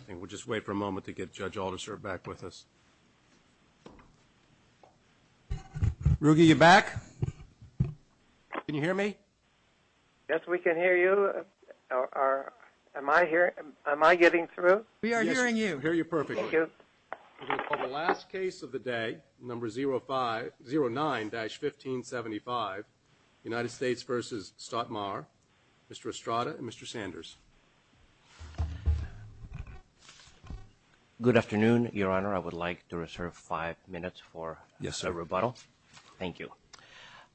I think we'll just wait for a moment to get Judge Aldersdorf back with us. Ruge, you back? Can you hear me? Yes, we can hear you. Am I getting through? We are hearing you. Yes, we hear you perfectly. Thank you. We're going to call the last case of the day, number 09-1575, United States v. Stadtmauer, Mr. Estrada and Mr. Sanders. Good afternoon, Your Honor. I would like to reserve five minutes for a rebuttal. Thank you.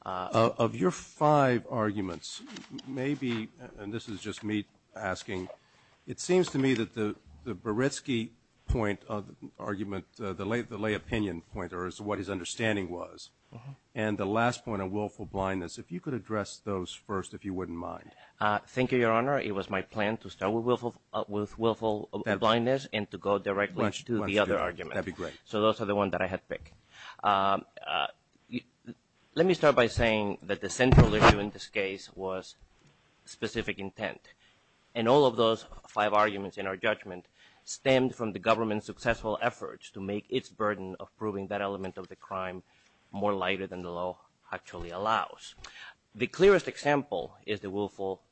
Of your five arguments, maybe, and this is just me asking, it seems to me that the Beretsky point of argument, the lay opinion point, or what his understanding was, and the last point on willful blindness, if you could address those first, if you wouldn't mind. Thank you, Your Honor. It was my plan to start with willful blindness and to go directly to the other argument. That would be great. So those are the ones that I had picked. Let me start by saying that the central issue in this case was specific intent, and all of those five arguments in our judgment stemmed from the government's successful efforts to make its burden of proving that element of the crime more lighter than the law actually allows. The clearest example is the willful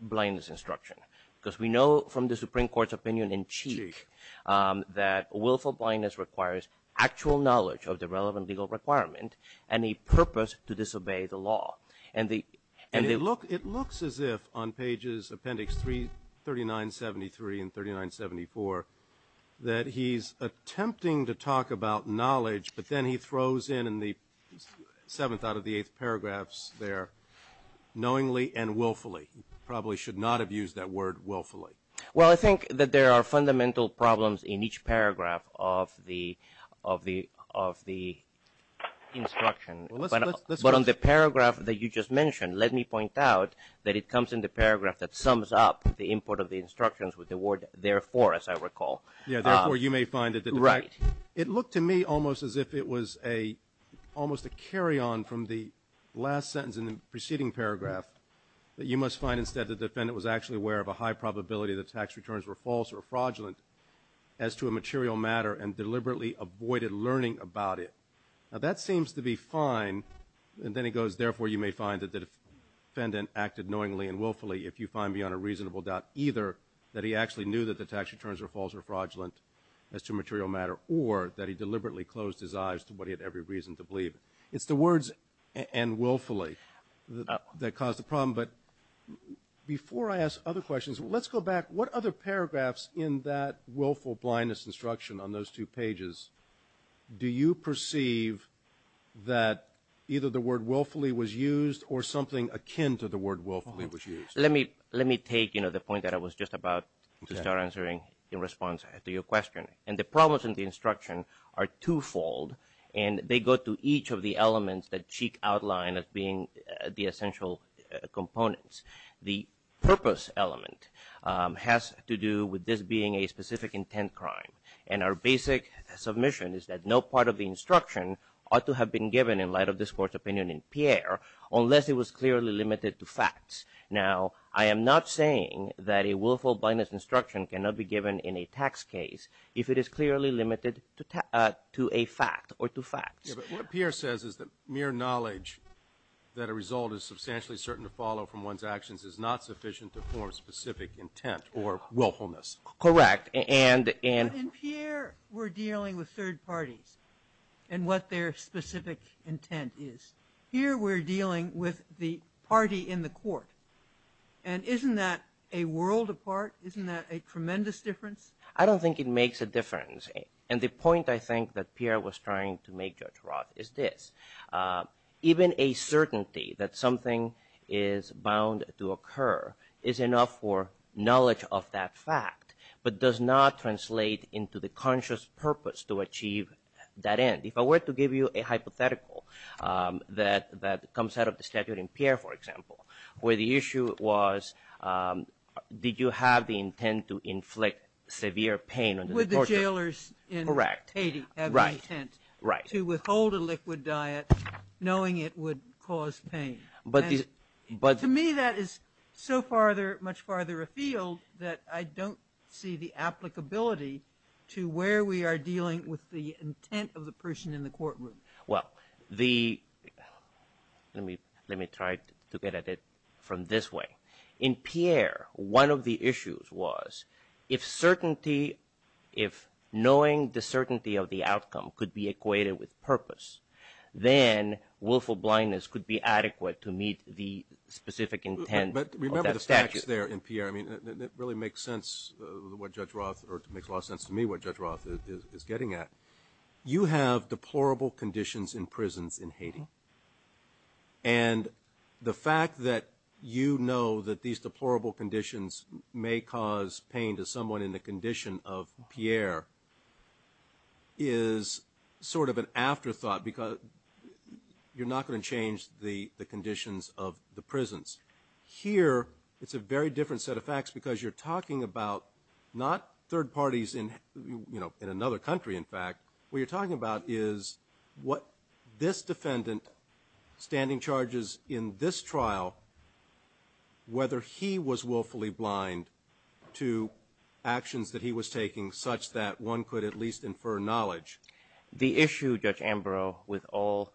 blindness instruction, because we know from the Supreme Court's opinion in Cheek that willful blindness requires actual knowledge of the relevant legal requirement and a purpose to disobey the law. It looks as if on pages appendix 3973 and 3974 that he's attempting to talk about knowledge, but then he throws in the seventh out of the eighth paragraphs there, knowingly and willfully. He probably should not have used that word willfully. Well, I think that there are fundamental problems in each paragraph of the instruction. But on the paragraph that you just mentioned, let me point out that it comes in the paragraph that sums up the input of the instructions with the word therefore, as I recall. Yeah, therefore, you may find it. Right. It looked to me almost as if it was almost a carry-on from the last sentence in the preceding paragraph, that you must find instead the defendant was actually aware of a high probability that tax returns were false or fraudulent as to a material matter and deliberately avoided learning about it. Now, that seems to be fine, and then he goes, therefore, you may find that the defendant acted knowingly and willfully if you find beyond a reasonable doubt either that he actually knew that the tax returns were false or fraudulent as to a material matter or that he deliberately closed his eyes to what he had every reason to believe. It's the words and willfully that caused the problem. But before I ask other questions, let's go back. What other paragraphs in that willful blindness instruction on those two pages do you perceive that either the word willfully was used or something akin to the word willfully was used? Let me take, you know, the point that I was just about to start answering in response to your question. And the problems in the instruction are twofold, and they go to each of the elements that Cheek outlined as being the essential components. The purpose element has to do with this being a specific intent crime, and our basic submission is that no part of the instruction ought to have been given in light of this Court's opinion in Pierre unless it was clearly limited to facts. Now, I am not saying that a willful blindness instruction cannot be given in a tax case if it is clearly limited to a fact or to facts. But what Pierre says is that mere knowledge that a result is substantially certain to follow from one's actions is not sufficient to form specific intent or willfulness. Correct. And in Pierre we're dealing with third parties and what their specific intent is. Here we're dealing with the party in the Court. And isn't that a world apart? Isn't that a tremendous difference? I don't think it makes a difference. And the point I think that Pierre was trying to make, Judge Roth, is this. Even a certainty that something is bound to occur is enough for knowledge of that fact, but does not translate into the conscious purpose to achieve that end. If I were to give you a hypothetical that comes out of the statute in Pierre, for example, where the issue was did you have the intent to inflict severe pain on the torturer? Would the jailers in Haiti have the intent to withhold a liquid diet knowing it would cause pain? To me that is so much farther afield that I don't see the applicability to where we are dealing with the intent of the person in the courtroom. Well, let me try to get at it from this way. In Pierre, one of the issues was if knowing the certainty of the outcome could be equated with purpose, then willful blindness could be adequate to meet the specific intent of that statute. But remember the facts there in Pierre. I mean, it really makes sense what Judge Roth, or it makes a lot of sense to me what Judge Roth is getting at. You have deplorable conditions in prisons in Haiti, and the fact that you know that these deplorable conditions may cause pain to someone in the condition of Pierre is sort of an afterthought because you're not going to change the conditions of the prisons. Here it's a very different set of facts because you're talking about not third parties in another country, in fact. What you're talking about is what this defendant standing charges in this trial, whether he was willfully blind to actions that he was taking such that one could at least infer knowledge. The issue, Judge Ambrose, with all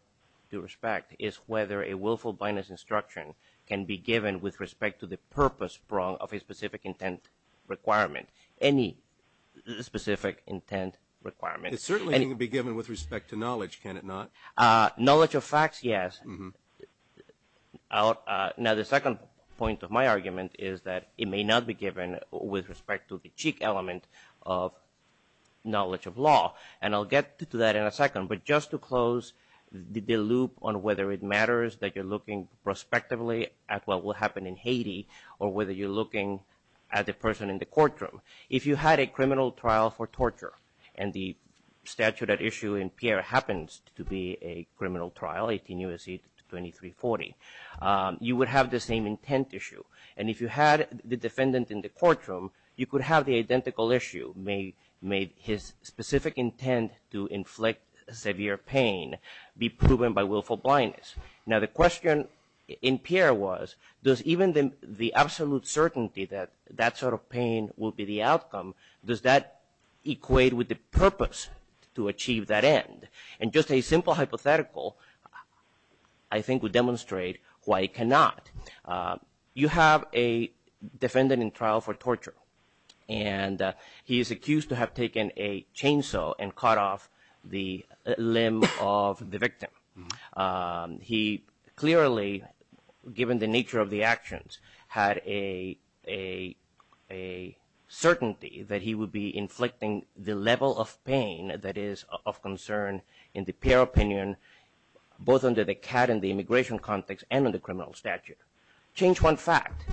due respect, is whether a willful blindness instruction can be given with respect to the purpose of a specific intent requirement, any specific intent requirement. It certainly can be given with respect to knowledge, can it not? Knowledge of facts, yes. Now the second point of my argument is that it may not be given with respect to the cheek element of knowledge of law, and I'll get to that in a second, but just to close the loop on whether it matters that you're looking prospectively at what will happen in Haiti or whether you're looking at the person in the courtroom. If you had a criminal trial for torture, and the statute at issue in Pierre happens to be a criminal trial, 18 U.S.C. 2340, you would have the same intent issue. And if you had the defendant in the courtroom, you could have the identical issue, may his specific intent to inflict severe pain be proven by willful blindness. Now the question in Pierre was, does even the absolute certainty that that sort of pain will be the outcome, does that equate with the purpose to achieve that end? And just a simple hypothetical I think would demonstrate why it cannot. You have a defendant in trial for torture, and he is accused to have taken a chainsaw and cut off the limb of the victim. He clearly, given the nature of the actions, had a certainty that he would be inflicting the level of pain that is of concern in the Pierre opinion, both under the CAT and the immigration context and in the criminal statute. Change one fact,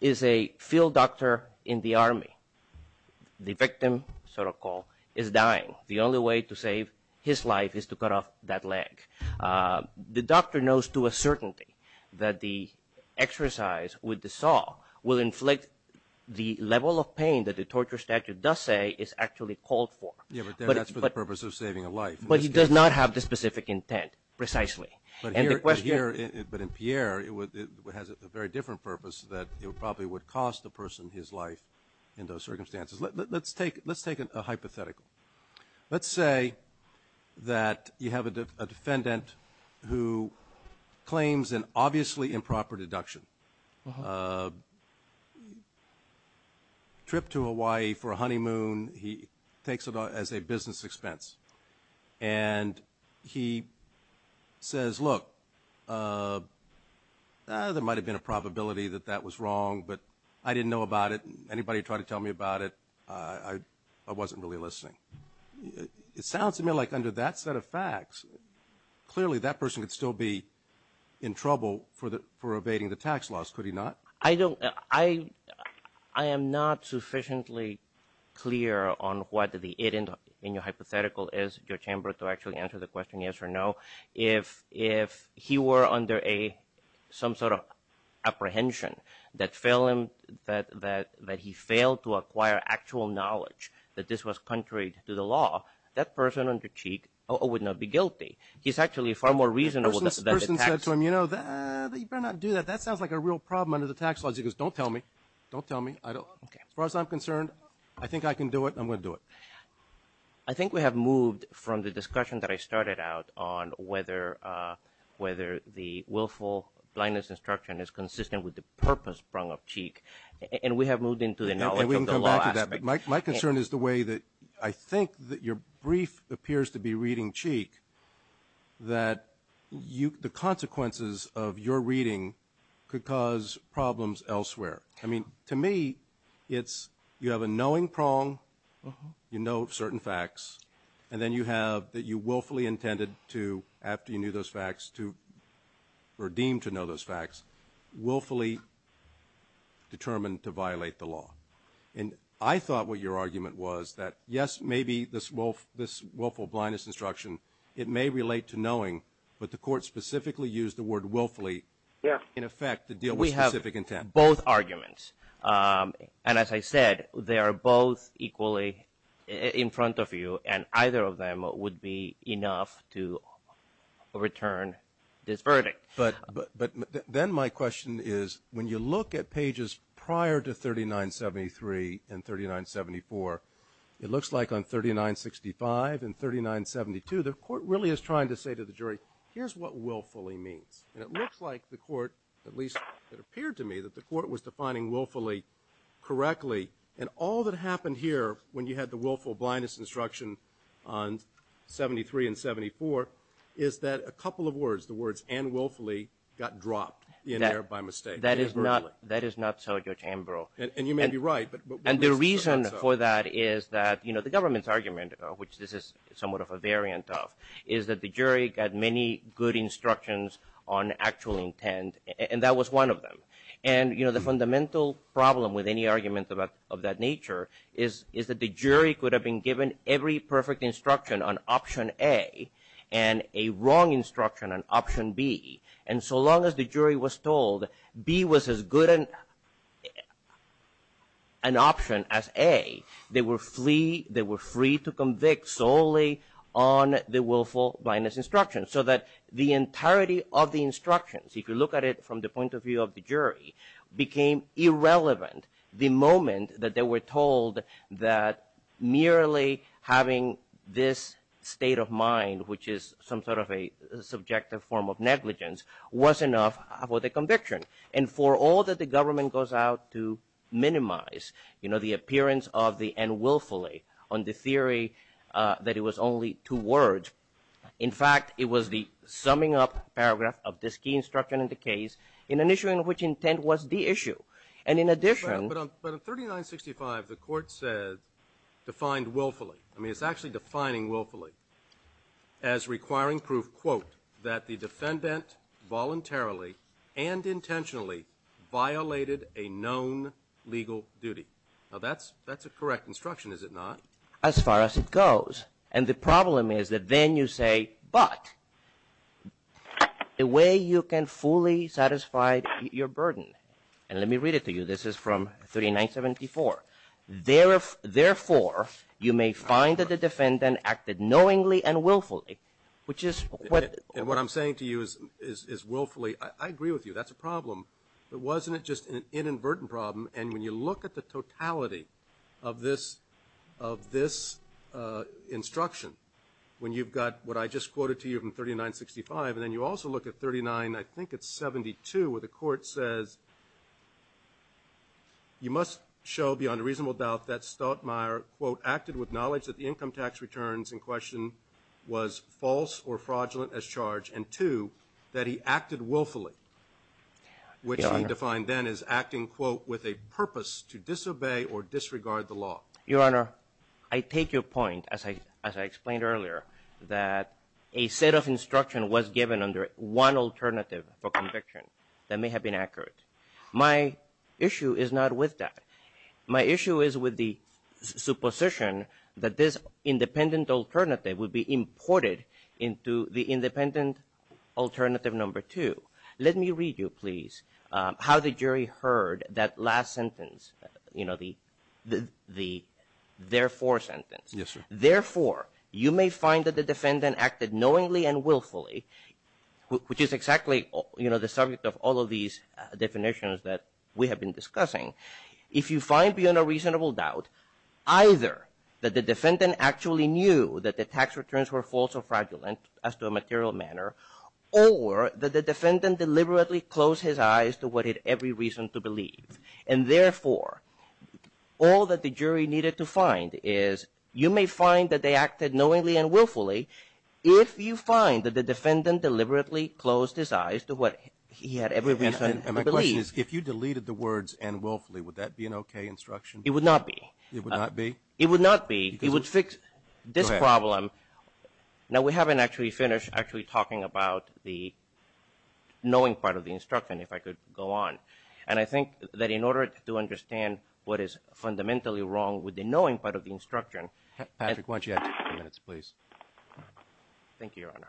is a field doctor in the Army, the victim, so to call, is dying. The only way to save his life is to cut off that leg. The doctor knows to a certainty that the exercise with the saw will inflict the level of pain that the torture statute does say is actually called for. Yeah, but that's for the purpose of saving a life. But he does not have the specific intent precisely. But in Pierre, it has a very different purpose that it probably would cost the person his life in those circumstances. Let's take a hypothetical. Let's say that you have a defendant who claims an obviously improper deduction. Trip to Hawaii for a honeymoon, he takes it as a business expense. And he says, look, there might have been a probability that that was wrong, but I didn't know about it. Anybody tried to tell me about it, I wasn't really listening. It sounds to me like under that set of facts, clearly that person could still be in trouble for evading the tax laws. Could he not? I am not sufficiently clear on what the it in your hypothetical is, your chamber, to actually answer the question yes or no. If he were under some sort of apprehension that he failed to acquire actual knowledge that this was contrary to the law, that person under cheat would not be guilty. He's actually far more reasonable than the tax. You better not do that. That sounds like a real problem under the tax laws. He goes, don't tell me. Don't tell me. As far as I'm concerned, I think I can do it. I'm going to do it. I think we have moved from the discussion that I started out on whether the willful blindness instruction is consistent with the purpose prong of cheat. And we have moved into the knowledge of the law aspect. My concern is the way that I think that your brief appears to be reading cheek, that the consequences of your reading could cause problems elsewhere. I mean, to me, it's you have a knowing prong. You know certain facts. And then you have that you willfully intended to, after you knew those facts, to redeem to know those facts, willfully determined to violate the law. And I thought what your argument was that, yes, maybe this willful blindness instruction, it may relate to knowing, but the court specifically used the word willfully in effect to deal with specific intent. We have both arguments. And as I said, they are both equally in front of you, and either of them would be enough to return this verdict. But then my question is, when you look at pages prior to 3973 and 3974, it looks like on 3965 and 3972, the court really is trying to say to the jury, here's what willfully means. And it looks like the court, at least it appeared to me, that the court was defining willfully correctly. And all that happened here, when you had the willful blindness instruction on 73 and 74, is that a couple of words, the words and willfully, got dropped in there by mistake. That is not so, Judge Ambrose. And you may be right. And the reason for that is that, you know, the government's argument, which this is somewhat of a variant of, is that the jury got many good instructions on actual intent. And that was one of them. And, you know, the fundamental problem with any argument of that nature is that the jury could have been given every perfect instruction on option A and a wrong instruction on option B. And so long as the jury was told B was as good an option as A, they were free to convict solely on the willful blindness instruction. So that the entirety of the instructions, if you look at it from the point of view of the jury, became irrelevant the moment that they were told that merely having this state of mind, which is some sort of a subjective form of negligence, was enough for the conviction. And for all that the government goes out to minimize, you know, the appearance of the end willfully on the theory that it was only two words. In fact, it was the summing up paragraph of this key instruction in the case in an issue in which intent was the issue. And in addition. But on 3965, the court said, defined willfully. I mean, it's actually defining willfully as requiring proof, quote, that the defendant voluntarily and intentionally violated a known legal duty. Now, that's a correct instruction, is it not? As far as it goes. And the problem is that then you say, but the way you can fully satisfy your burden, and let me read it to you. This is from 3974. Therefore, you may find that the defendant acted knowingly and willfully, which is what. And what I'm saying to you is willfully. I agree with you. That's a problem. But wasn't it just an inadvertent problem? And when you look at the totality of this of this instruction, when you've got what I just quoted to you from 3965, and then you also look at 39, I think it's 72, where the court says. You must show beyond a reasonable doubt that Stoutmire, quote, acted with knowledge that the income tax returns in question was false or fraudulent as charged. And two, that he acted willfully, which he defined then as acting, quote, with a purpose to disobey or disregard the law. Your Honor, I take your point, as I explained earlier, that a set of instruction was given under one alternative for conviction that may have been accurate. My issue is not with that. My issue is with the supposition that this independent alternative would be imported into the independent alternative number two. Let me read you, please, how the jury heard that last sentence, you know, the therefore sentence. Yes, sir. Therefore, you may find that the defendant acted knowingly and willfully, which is exactly, you know, the subject of all of these definitions that we have been discussing. If you find beyond a reasonable doubt either that the defendant actually knew that the tax returns were false or fraudulent as to a material manner, or that the defendant deliberately closed his eyes to what he had every reason to believe. And therefore, all that the jury needed to find is you may find that they acted knowingly and willfully if you find that the defendant deliberately closed his eyes to what he had every reason to believe. And my question is, if you deleted the words and willfully, would that be an okay instruction? It would not be. It would not be? It would not be. It would fix this problem. Now, we haven't actually finished actually talking about the knowing part of the instruction, if I could go on. And I think that in order to understand what is fundamentally wrong with the knowing part of the instruction. Patrick, why don't you add two more minutes, please? Thank you, Your Honor.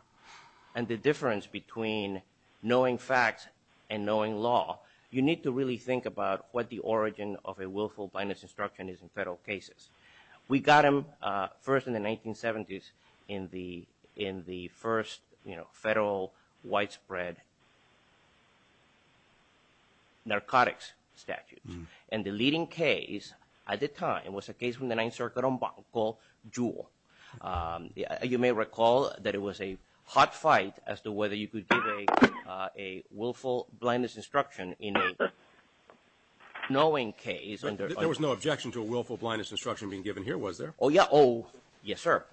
And the difference between knowing facts and knowing law, you need to really think about what the origin of a willful blindness instruction is in federal cases. We got them first in the 1970s in the first, you know, federal widespread narcotics statute. And the leading case at the time was a case from the Ninth Circuit called Jewel. You may recall that it was a hot fight as to whether you could give a willful blindness instruction in a knowing case. There was no objection to a willful blindness instruction being given here, was there? Oh, yeah. Oh, yes, sir.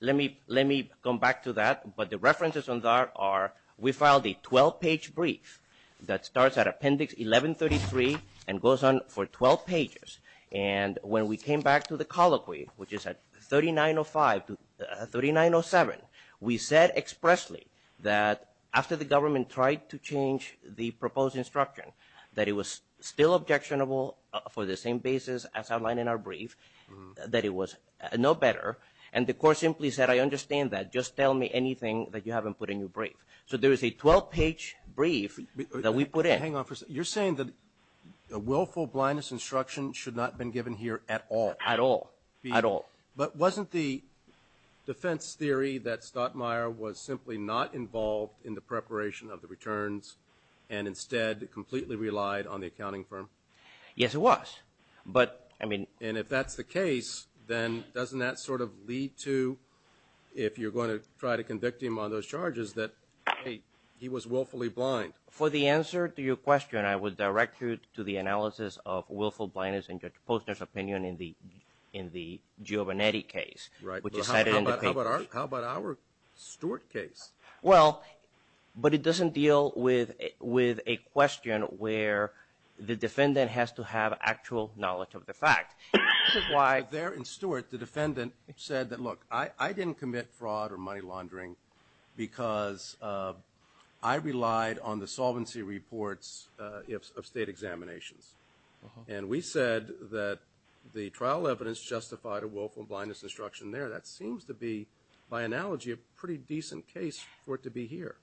Let me come back to that. But the references on that are we filed a 12-page brief that starts at Appendix 1133 and goes on for 12 pages. And when we came back to the colloquy, which is at 3905 to 3907, we said expressly that after the government tried to change the proposed instruction, that it was still objectionable for the same basis as outlined in our brief, that it was no better. And the court simply said, I understand that. Just tell me anything that you haven't put in your brief. So there is a 12-page brief that we put in. Hang on for a second. You're saying that a willful blindness instruction should not have been given here at all? At all. At all. But wasn't the defense theory that Stottmeyer was simply not involved in the preparation of the returns and instead completely relied on the accounting firm? Yes, it was. And if that's the case, then doesn't that sort of lead to, if you're going to try to convict him on those charges, that he was willfully blind? For the answer to your question, I would direct you to the analysis of willful blindness in Judge Posner's opinion in the Giovannetti case. Right. Which is cited in the papers. How about our Stewart case? Well, but it doesn't deal with a question where the defendant has to have actual knowledge of the fact. There in Stewart, the defendant said that, look, I didn't commit fraud or money laundering because I relied on the solvency reports of state examinations. And we said that the trial evidence justified a willful blindness instruction there. That seems to be, by analogy, a pretty decent case for it to be here.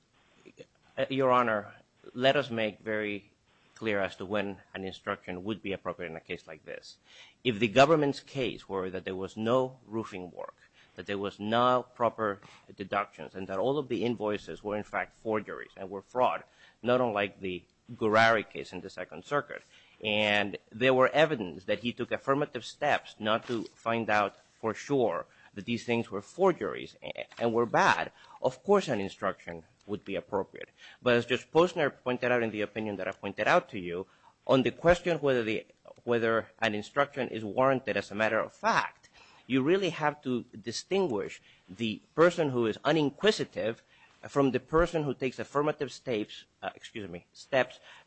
Your Honor, let us make very clear as to when an instruction would be appropriate in a case like this. If the government's case were that there was no roofing work, that there was no proper deductions, and that all of the invoices were, in fact, forgeries and were fraud, not unlike the Gourary case in the Second Circuit, and there were evidence that he took affirmative steps not to find out for sure that these things were forgeries and were bad, of course an instruction would be appropriate. But as Judge Posner pointed out in the opinion that I pointed out to you, on the question whether an instruction is warranted as a matter of fact, you really have to distinguish the person who is uninquisitive from the person who takes affirmative steps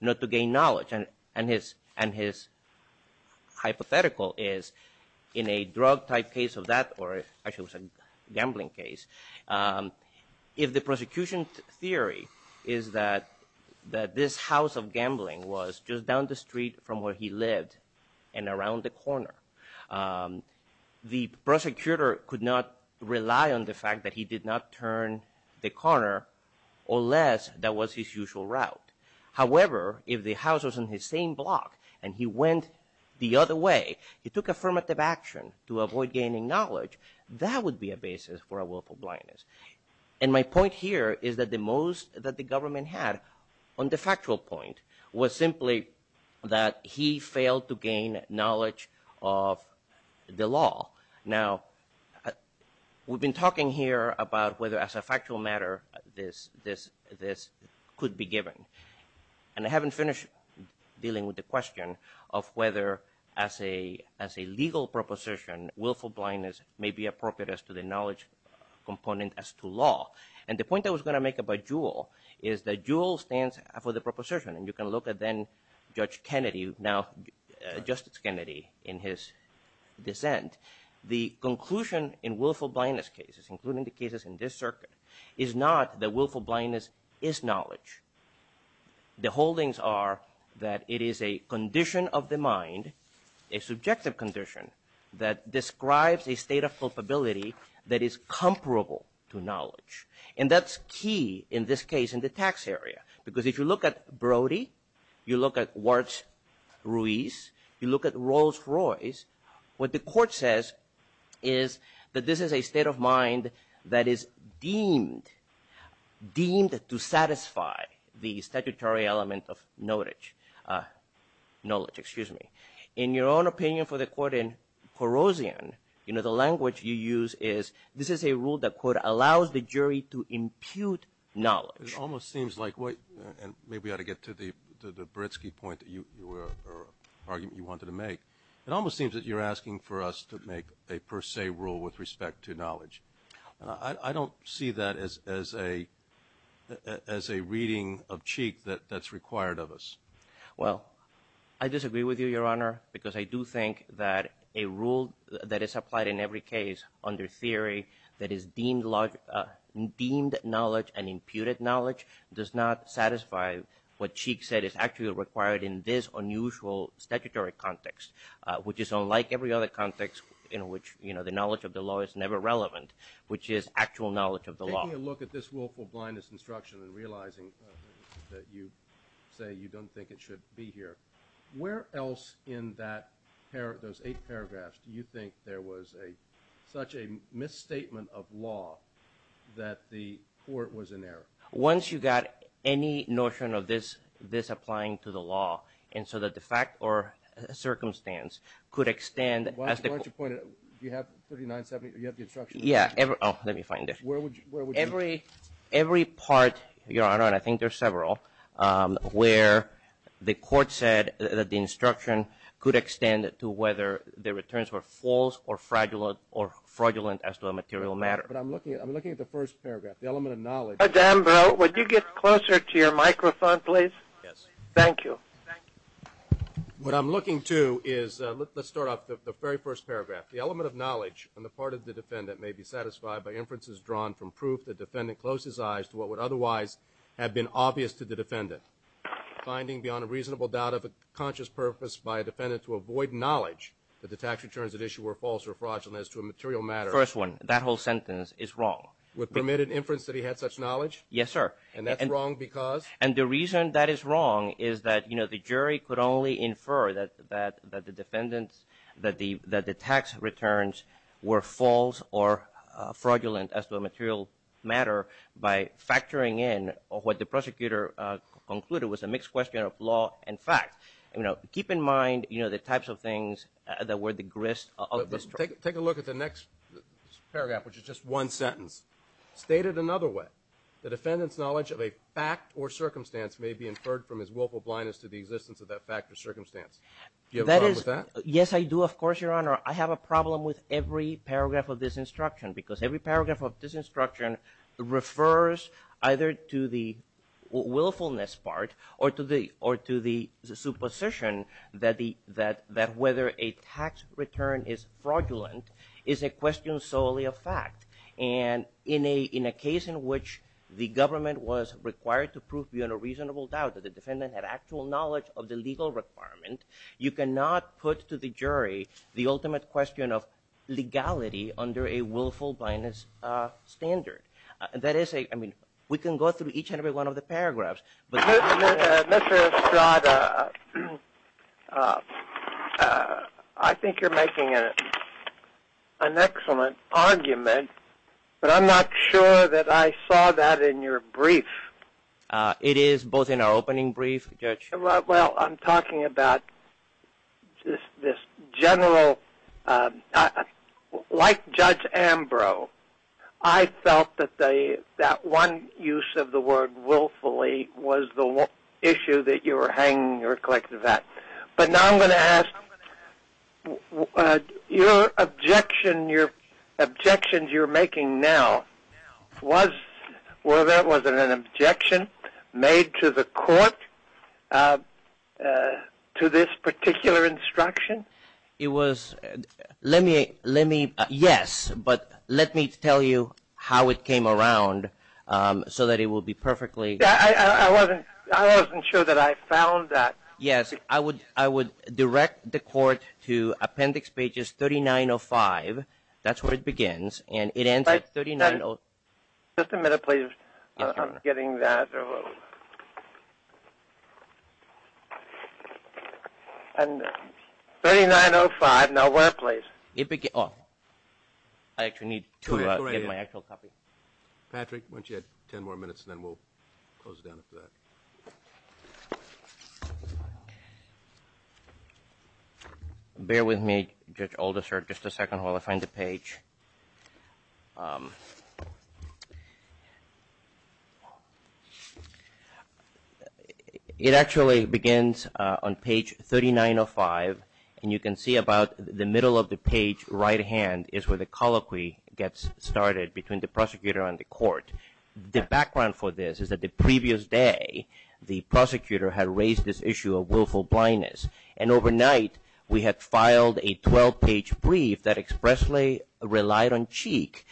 not to gain knowledge. And his hypothetical is in a drug-type case of that, or actually it was a gambling case, if the prosecution's theory is that this house of gambling was just down the street from where he lived and around the corner, the prosecutor could not rely on the fact that he did not turn the corner unless that was his usual route. However, if the house was on his same block and he went the other way, he took affirmative action to avoid gaining knowledge, that would be a basis for a willful blindness. And my point here is that the most that the government had on the factual point was simply that he failed to gain knowledge of the law. Now, we've been talking here about whether as a factual matter this could be given. And I haven't finished dealing with the question of whether as a legal proposition, willful blindness may be appropriate as to the knowledge component as to law. And the point I was going to make about JUUL is that JUUL stands for the proposition, and you can look at then-Judge Kennedy, now Justice Kennedy in his dissent. The conclusion in willful blindness cases, including the cases in this circuit, is not that willful blindness is knowledge. The holdings are that it is a condition of the mind, a subjective condition, that describes a state of culpability that is comparable to knowledge. And that's key in this case in the tax area, because if you look at Brody, you look at Warts-Ruiz, you look at Rolls-Royce, what the court says is that this is a state of mind that is deemed to satisfy the statutory element of knowledge. In your own opinion for the court in Corozian, the language you use is, this is a rule that, quote, allows the jury to impute knowledge. It almost seems like, and maybe I ought to get to the Britski point, or argument you wanted to make. It almost seems that you're asking for us to make a per se rule with respect to knowledge. I don't see that as a reading of cheek that's required of us. Well, I disagree with you, Your Honor, because I do think that a rule that is applied in every case under theory that is deemed knowledge and imputed knowledge does not satisfy what Cheek said is actually required in this unusual statutory context, which is unlike every other context in which the knowledge of the law is never relevant, which is actual knowledge of the law. I'm taking a look at this willful blindness instruction and realizing that you say you don't think it should be here. Where else in those eight paragraphs do you think there was such a misstatement of law that the court was in error? Once you got any notion of this applying to the law, and so that the fact or circumstance could extend. Why don't you point it? Do you have 3970? Do you have the instruction? Yeah. Oh, let me find it. Where would you? Every part, Your Honor, and I think there's several, where the court said that the instruction could extend to whether the returns were false or fraudulent as to a material matter. But I'm looking at the first paragraph, the element of knowledge. Mr. Ambrose, would you get closer to your microphone, please? Yes. Thank you. What I'm looking to is, let's start off the very first paragraph. The element of knowledge on the part of the defendant may be satisfied by inferences drawn from proof the defendant closed his eyes to what would otherwise have been obvious to the defendant. Finding beyond a reasonable doubt of a conscious purpose by a defendant to avoid knowledge that the tax returns at issue were false or fraudulent as to a material matter. First one, that whole sentence is wrong. Would permit an inference that he had such knowledge? Yes, sir. And that's wrong because? And the reason that is wrong is that, you know, the jury could only infer that the defendant's, that the tax returns were false or fraudulent as to a material matter by factoring in what the prosecutor concluded was a mixed question of law and fact. You know, keep in mind, you know, the types of things that were the grist of this trial. Take a look at the next paragraph, which is just one sentence. Stated another way, the defendant's knowledge of a fact or circumstance may be inferred from his willful blindness to the existence of that fact or circumstance. Do you have a problem with that? Yes, I do. Of course, Your Honor. I have a problem with every paragraph of this instruction because every paragraph of this instruction refers either to the willfulness part or to the supposition that whether a tax return is fraudulent is a question solely of fact. And in a case in which the government was required to prove beyond a reasonable doubt that the defendant had actual knowledge of the legal requirement, you cannot put to the jury the ultimate question of legality under a willful blindness standard. That is a, I mean, we can go through each and every one of the paragraphs. Mr. Estrada, I think you're making an excellent argument, but I'm not sure that I saw that in your brief. It is both in our opening brief, Judge. Well, I'm talking about this general, like Judge Ambrose, I felt that that one use of the word willfully was the issue that you were hanging your collective act. But now I'm going to ask, your objection, your objections you're making now, was, well, that was an objection made to the court to this particular instruction? It was, let me, yes, but let me tell you how it came around so that it will be perfectly. I wasn't sure that I found that. Yes, I would direct the court to appendix pages 3905, that's where it begins, and it ends at 3905. Just a minute, please. I'm getting that. 3905, now where, please? I actually need to get my actual copy. Patrick, why don't you add ten more minutes and then we'll close it down after that. Bear with me, Judge Alderser, just a second while I find the page. It actually begins on page 3905, and you can see about the middle of the page, right hand, is where the colloquy gets started between the prosecutor and the court. The background for this is that the previous day, the prosecutor had raised this issue of willful blindness, and overnight, we had filed a 12-page brief that expressly relied on cheek,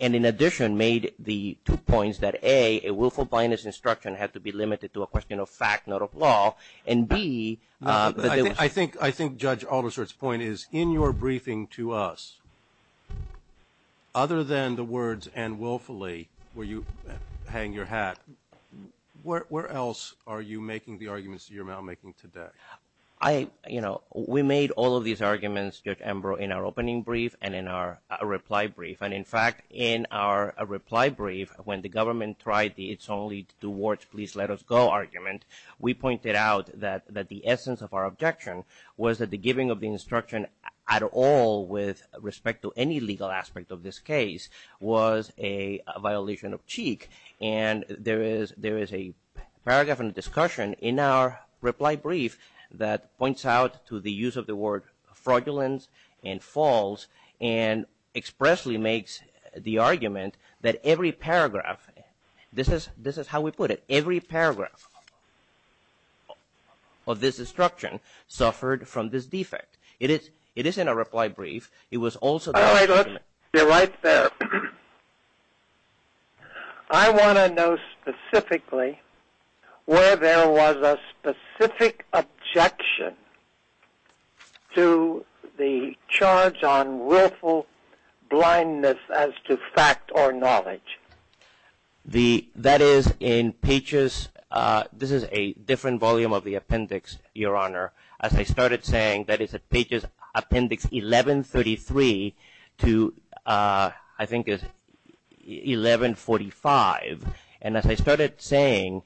and in addition made the two points that, A, a willful blindness instruction had to be limited to a question of fact, not of law, and, B, I think Judge Alderser's point is, in your briefing to us, other than the words, and willfully, where you hang your hat, where else are you making the arguments that you're now making today? I, you know, we made all of these arguments, Judge Ambrose, in our opening brief and in our reply brief, and in fact, in our reply brief, when the government tried the it's only two words, please let us go argument, we pointed out that the essence of our objection was that the giving of the instruction at all, with respect to any legal aspect of this case, was a violation of cheek, and there is a paragraph in the discussion in our reply brief that points out to the use of the word fraudulence and false and expressly makes the argument that every paragraph, this is how we put it, every paragraph of this instruction suffered from this defect. It is in our reply brief, it was also... That is in pages, this is a different volume of the appendix, Your Honor. As I started saying, that is at pages, appendix 1133 to, I think it's 1145, and as I started saying,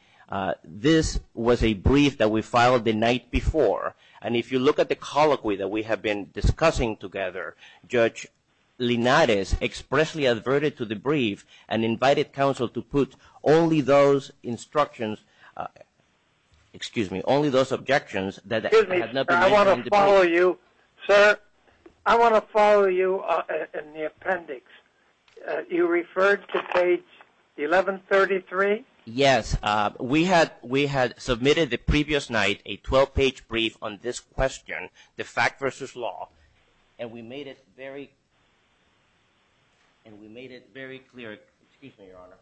this was a brief that we filed the night before, and if you look at the colloquy that we have been discussing together, Judge Linares expressly adverted to the brief and invited counsel to put only those instructions, excuse me, only those objections that... Excuse me, I want to follow you, sir, I want to follow you in the appendix. You referred to page 1133? Yes, we had submitted the previous night a 12-page brief on this question, the fact versus law, and we made it very clear, excuse me, Your Honor.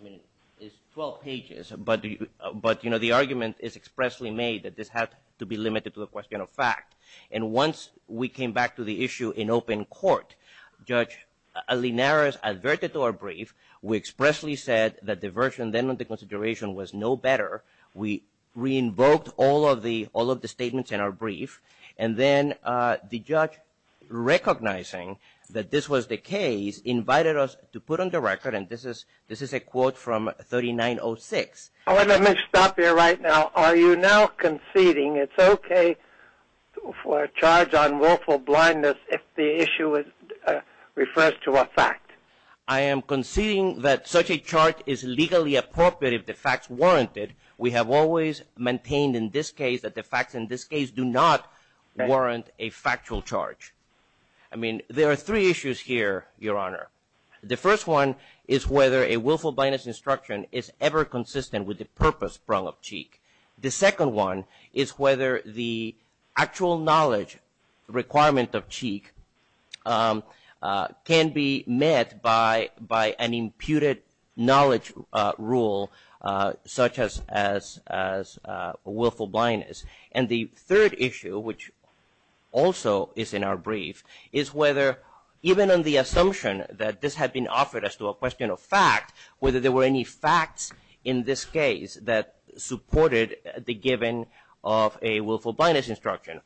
I mean, it's 12 pages, but the argument is expressly made that this had to be limited to a question of fact, and once we came back to the issue in open court, Judge Linares adverted to our brief, we expressly said that the version then under consideration was no better, we re-invoked all of the statements in our brief, and then the judge, recognizing that this was the case, invited us to put on the record, and this is a quote from 3906. All right, let me stop here right now. Are you now conceding it's okay for a charge on willful blindness if the issue refers to a fact? I am conceding that such a charge is legally appropriate if the facts warrant it. We have always maintained in this case that the facts in this case do not warrant a factual charge. I mean, there are three issues here, Your Honor. The first one is whether a willful blindness instruction is ever consistent with the purpose prong of cheek. The second one is whether the actual knowledge requirement of cheek can be met by an imputed knowledge rule, such as willful blindness. And the third issue, which also is in our brief, is whether even on the assumption that this had been offered as to a question of fact, whether there were any facts in this case that supported the giving of a willful blindness instruction.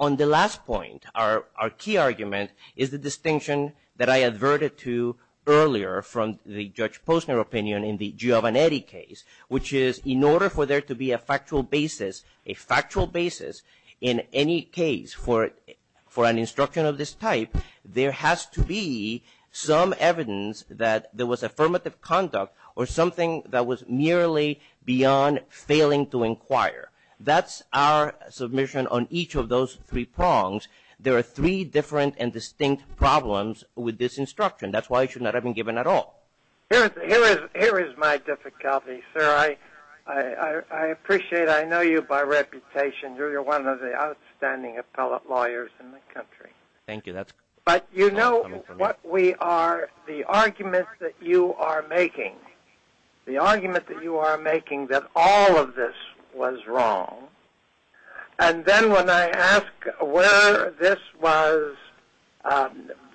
On the last point, our key argument is the distinction that I adverted to earlier from the Judge Posner opinion in the Giovannetti case, which is in order for there to be a factual basis, a factual basis in any case for an instruction of this type, there has to be some evidence that there was affirmative conduct or something that was merely beyond failing to inquire. That's our submission on each of those three prongs. There are three different and distinct problems with this instruction. That's why it should not have been given at all. Here is my difficulty, sir. I appreciate it. I know you by reputation. You're one of the outstanding appellate lawyers in the country. Thank you. But you know what we are, the argument that you are making, the argument that you are making that all of this was wrong, and then when I ask where this was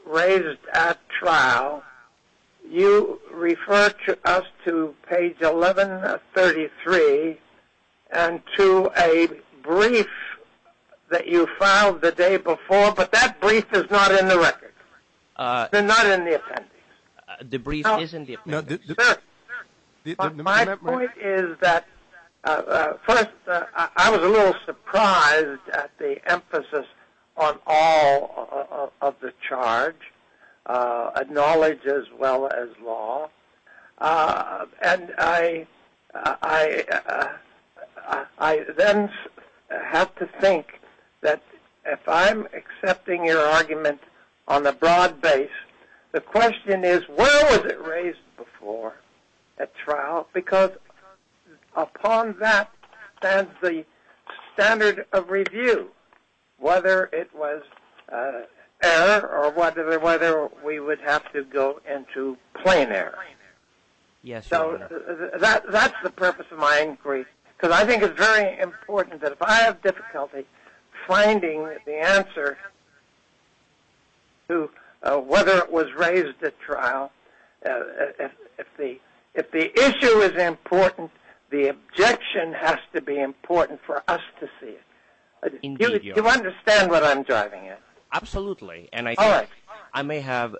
raised at trial, you refer us to page 1133 and to a brief that you filed the day before, but that brief is not in the record. They're not in the appendix. The brief is in the appendix. Sir, my point is that, first, I was a little surprised at the emphasis on all of the charge, knowledge as well as law, and I then have to think that if I'm accepting your argument on the broad The question is, where was it raised before at trial? Because upon that stands the standard of review, whether it was error or whether we would have to go into plain error. So that's the purpose of my inquiry, because I think it's very important that if I have difficulty finding the answer to whether it was raised at trial, if the issue is important, the objection has to be important for us to see it. Do you understand what I'm driving at? Absolutely, and I may have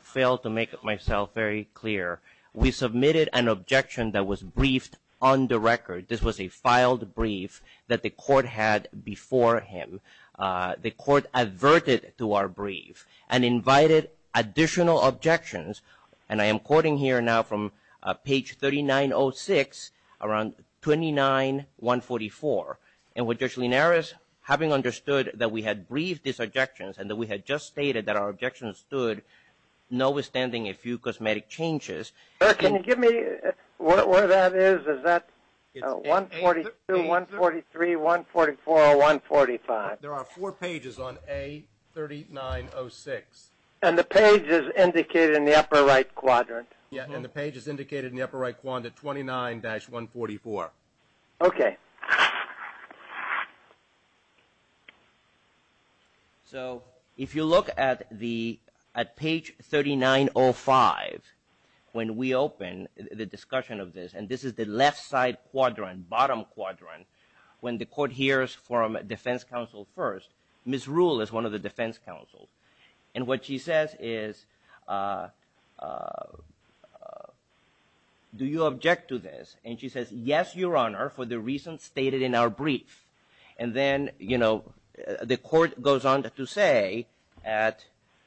failed to make myself very clear. We submitted an objection that was briefed on the record. This was a filed brief that the court had before him and the court adverted to our brief and invited additional objections, and I am quoting here now from page 3906 around 29-144. And with Judge Linares having understood that we had briefed these objections and that we had just stated that our objections stood, no withstanding a few cosmetic changes. Can you give me where that is? Is that 142, 143, 144, or 145? There are four pages on A3906. And the page is indicated in the upper right quadrant? Yes, and the page is indicated in the upper right quadrant at 29-144. Okay. So if you look at page 3905 when we open the discussion of this, and this is the left side quadrant, bottom quadrant, when the court hears from defense counsel first, Ms. Rule is one of the defense counsels, and what she says is, do you object to this? And she says, yes, Your Honor, for the reasons stated in our brief. And then, you know, the court goes on to say at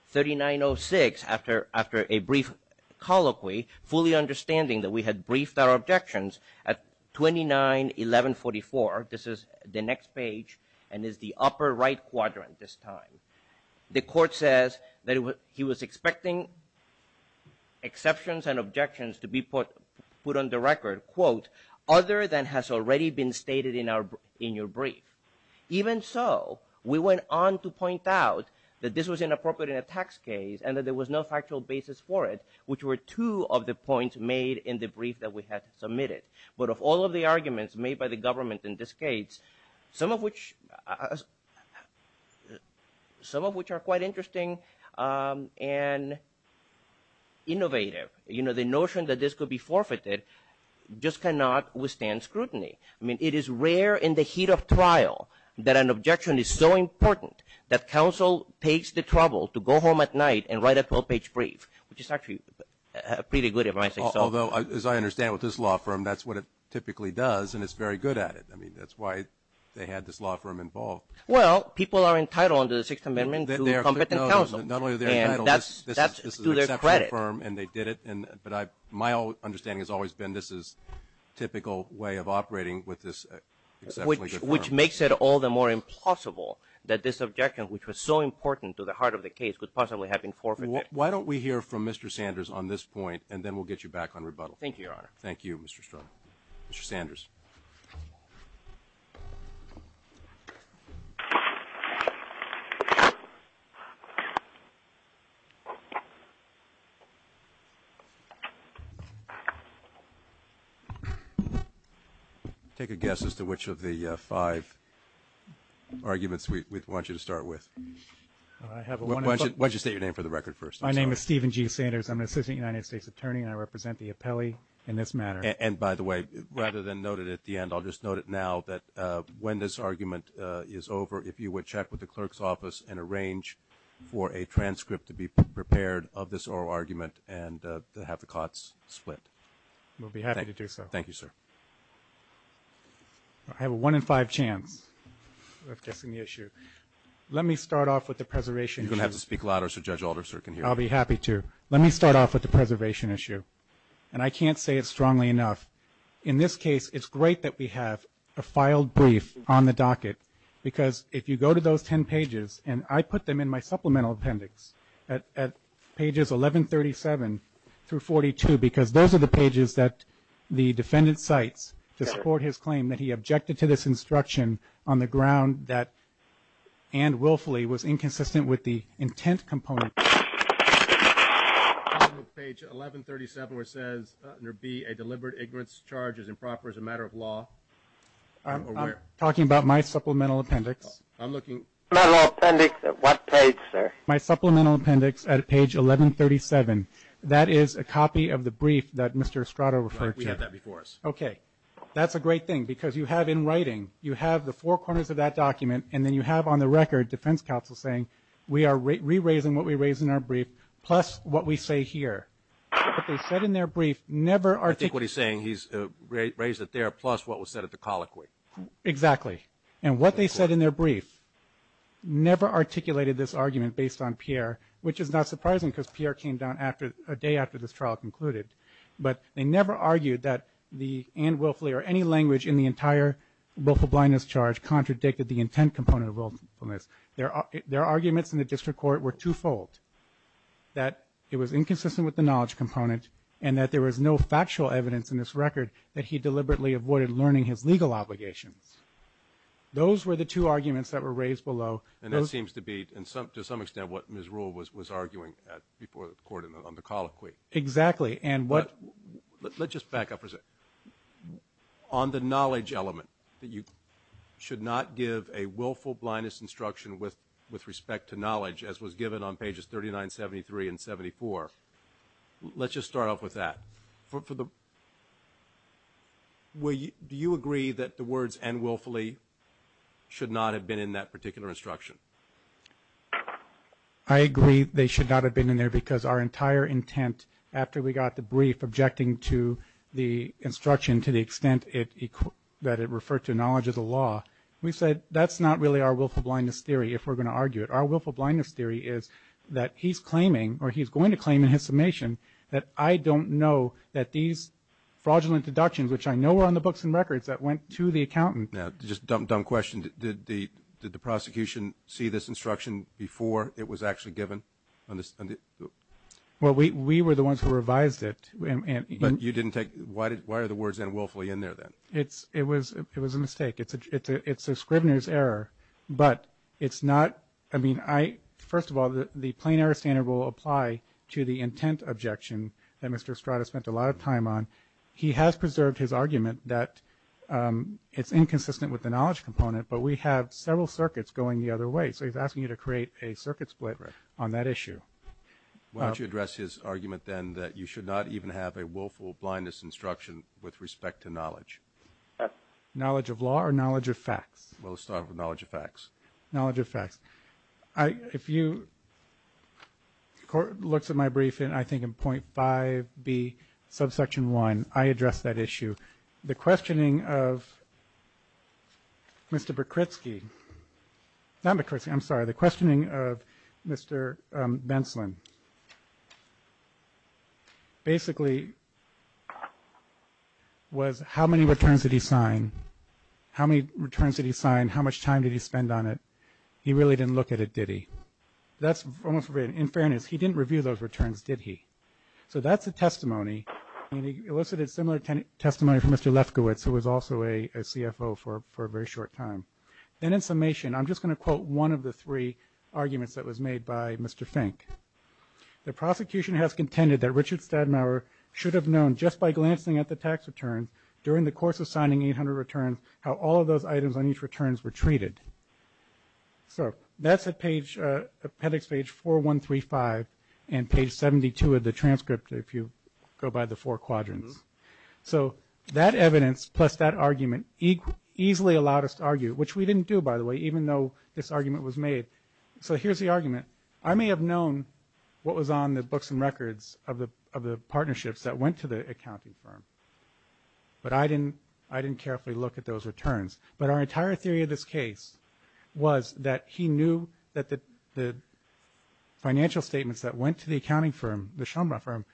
3906 after a brief colloquy, fully understanding that we had briefed our objections at 29-1144, this is the next page and is the upper right quadrant this time. The court says that he was expecting exceptions and objections to be put on the record, quote, other than has already been stated in your brief. Even so, we went on to point out that this was inappropriate in a tax case and that there was no factual basis for it, which were two of the points made in the brief that we had submitted. But of all of the arguments made by the government in this case, some of which are quite interesting and innovative. You know, the notion that this could be forfeited just cannot withstand scrutiny. I mean, it is rare in the heat of trial that an objection is so important that counsel takes the trouble to go home at night and write a 12-page brief, which is actually pretty good advice. Although, as I understand with this law firm, that's what it typically does, and it's very good at it. I mean, that's why they had this law firm involved. Well, people are entitled under the Sixth Amendment to competent counsel. Not only are they entitled, this is an exceptional firm, and they did it. But my understanding has always been this is a typical way of operating with this exceptionally good firm. Which makes it all the more impossible that this objection, which was so important to the heart of the case, could possibly have been forfeited. Why don't we hear from Mr. Sanders on this point, and then we'll get you back on rebuttal. Thank you, Your Honor. Thank you, Mr. Strong. Mr. Sanders. Take a guess as to which of the five arguments we want you to start with. Why don't you state your name for the record first? My name is Stephen G. Sanders. I'm an assistant United States attorney, and I represent the appellee in this matter. And by the way, rather than note it at the end, I'll just note it now that when this argument is over, if you would check with the clerk's office and arrange for a transcript to be prepared of this oral argument and have the cots split. We'll be happy to do so. Thank you, sir. I have a one in five chance of guessing the issue. Let me start off with the preservation issue. You're going to have to speak louder so Judge Alderser can hear you. I'll be happy to. Let me start off with the preservation issue. And I can't say it strongly enough. In this case, it's great that we have a filed brief on the docket, because if you go to those ten pages, and I put them in my supplemental appendix at pages 1137 through 42, because those are the pages that the defendant cites to support his claim that he objected to this instruction on the ground that, and willfully, was inconsistent with the intent component. Page 1137, where it says there be a deliberate ignorance charge as improper as a matter of law, or where? I'm talking about my supplemental appendix. I'm looking. Supplemental appendix at what page, sir? My supplemental appendix at page 1137. That is a copy of the brief that Mr. Estrada referred to. Right. We have that before us. Okay. That's a great thing. Because you have in writing, you have the four corners of that document, and then you have on the record defense counsel saying we are re-raising what we raised in our brief plus what we say here. What they said in their brief never articulated. I think what he's saying, he's raised it there plus what was said at the colloquy. Exactly. And what they said in their brief never articulated this argument based on Pierre, which is not surprising because Pierre came down a day after this trial concluded. But they never argued that the and willfully or any language in the entire willful blindness charge contradicted the intent component of willfulness. Their arguments in the district court were twofold, that it was inconsistent with the knowledge component and that there was no factual evidence in this record that he deliberately avoided learning his legal obligations. Those were the two arguments that were raised below. And that seems to be, to some extent, what Ms. Rule was arguing before the court on the colloquy. Exactly. Let's just back up for a second. On the knowledge element that you should not give a willful blindness instruction with respect to knowledge, as was given on pages 39, 73, and 74, let's just start off with that. Do you agree that the words and willfully should not have been in that particular instruction? I agree they should not have been in there because our entire intent, after we got the brief objecting to the instruction to the extent that it referred to knowledge of the law, we said that's not really our willful blindness theory if we're going to argue it. Our willful blindness theory is that he's claiming or he's going to claim in his summation that I don't know that these fraudulent deductions, which I know were on the books and records, that went to the accountant. Now, just a dumb question. Did the prosecution see this instruction before it was actually given? Well, we were the ones who revised it. But you didn't take it? Why are the words and willfully in there, then? It was a mistake. It's a scrivener's error. But it's not – I mean, first of all, the plain error standard will apply to the intent objection that Mr. Estrada spent a lot of time on. He has preserved his argument that it's inconsistent with the knowledge component, but we have several circuits going the other way. So he's asking you to create a circuit split on that issue. Why don't you address his argument, then, that you should not even have a willful blindness instruction with respect to knowledge? Knowledge of law or knowledge of facts? Knowledge of facts. If you look at my briefing, I think in .5B, subsection 1, I addressed that issue. The questioning of Mr. Berkritzky – not Berkritzky, I'm sorry. The questioning of Mr. Benslin basically was how many returns did he sign? How many returns did he sign? How much time did he spend on it? He really didn't look at it, did he? That's almost – in fairness, he didn't review those returns, did he? So that's a testimony, and he elicited similar testimony from Mr. Lefkowitz, who was also a CFO for a very short time. And in summation, I'm just going to quote one of the three arguments that was made by Mr. Fink. The prosecution has contended that Richard Stadmauer should have known, just by glancing at the tax returns during the course of signing 800 returns, how all of those items on each returns were treated. So that's at page – appendix page 4135 and page 72 of the transcript, if you go by the four quadrants. So that evidence plus that argument easily allowed us to argue, which we didn't do, by the way, even though this argument was made. So here's the argument. I may have known what was on the books and records of the partnerships that went to the accounting firm, but I didn't carefully look at those returns. But our entire theory of this case was that he knew that the financial statements that went to the accounting firm, the Schoenbrand firm,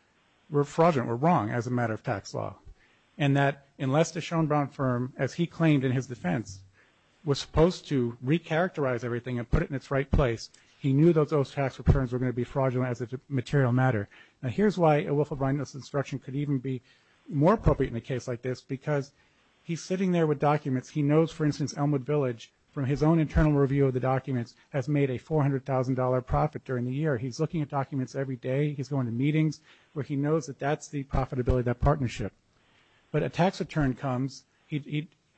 were fraudulent, were wrong as a matter of tax law. And that unless the Schoenbrand firm, as he claimed in his defense, was supposed to recharacterize everything and put it in its right place, he knew that those tax returns were going to be fraudulent as a material matter. Now, here's why a Wolf of Rhineless Instruction could even be more appropriate in a case like this because he's sitting there with documents. He knows, for instance, Elmwood Village, from his own internal review of the documents, has made a $400,000 profit during the year. He's looking at documents every day. He's going to meetings where he knows that that's the profitability of that partnership. But a tax return comes.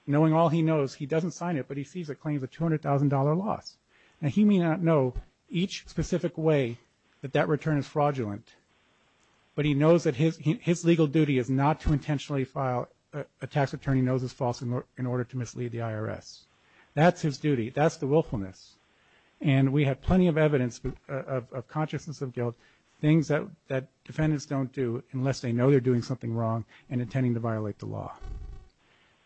Knowing all he knows, he doesn't sign it, but he sees it claims a $200,000 loss. Now, he may not know each specific way that that return is fraudulent, but he knows that his legal duty is not to intentionally file a tax return he knows is false in order to mislead the IRS. That's his duty. That's the willfulness. And we have plenty of evidence of consciousness of guilt, things that defendants don't do unless they know they're doing something wrong and intending to violate the law.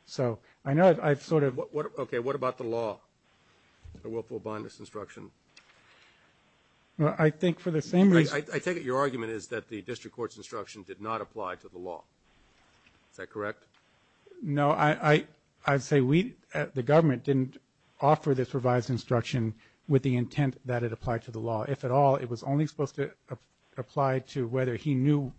So I know I've sort of... Okay, what about the law? The willful bondage instruction? I think for the same reason... I take it your argument is that the district court's instruction did not apply to the law. Is that correct? No, I'd say the government didn't offer this revised instruction with the intent that it applied to the law. If at all, it was only supposed to apply to whether he knew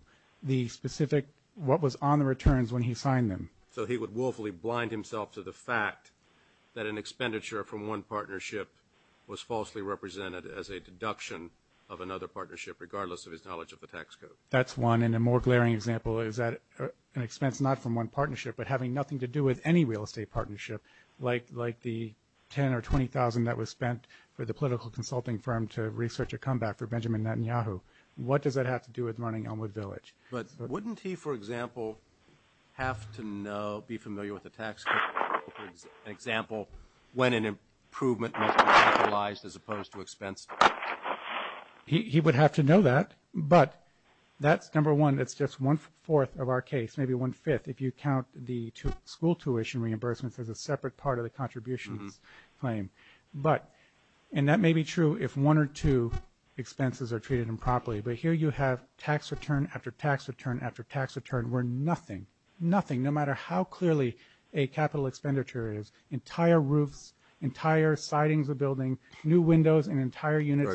the specific, what was on the returns when he signed them. So he would willfully blind himself to the fact that an expenditure from one partnership was falsely represented as a deduction of another partnership, regardless of his knowledge of the tax code. That's one. And a more glaring example is an expense not from one partnership, but having nothing to do with any real estate partnership, like the $10,000 or $20,000 that was spent for the political consulting firm to research a comeback for Benjamin Netanyahu. What does that have to do with running Elmwood Village? But wouldn't he, for example, have to know, be familiar with the tax code, for example, when an improvement must be capitalized as opposed to expense? He would have to know that, but that's number one. It's just one-fourth of our case, maybe one-fifth, if you count the school tuition reimbursements as a separate part of the contributions claim. But, and that may be true if one or two expenses are treated improperly, but here you have tax return after tax return after tax return where nothing, nothing, no matter how clearly a capital expenditure is, entire roofs, entire sidings of buildings, new windows, and entire units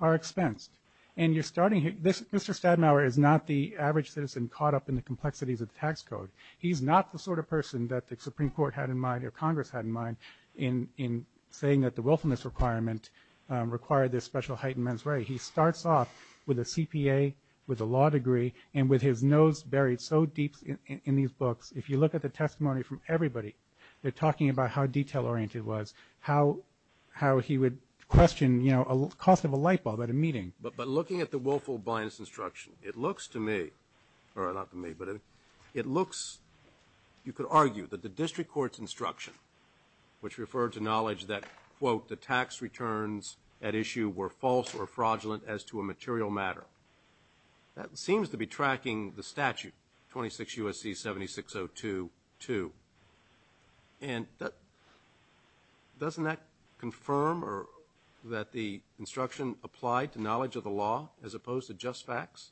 are expensed. And you're starting here. Mr. Stadenhauer is not the average citizen caught up in the complexities of the tax code. He's not the sort of person that the Supreme Court had in mind or Congress had in mind in saying that the willfulness requirement required this special heightened mens re. He starts off with a CPA, with a law degree, and with his nose buried so deep in these books, if you look at the testimony from everybody, they're talking about how detail-oriented it was, how he would question, you know, the cost of a light bulb at a meeting. But looking at the willful blindness instruction, it looks to me, or not to me, but it looks, you could argue that the district court's instruction, which referred to knowledge that, quote, the tax returns at issue were false or fraudulent as to a material matter. That seems to be tracking the statute, 26 U.S.C. 7602-2. And doesn't that confirm that the instruction applied to knowledge of the law as opposed to just facts?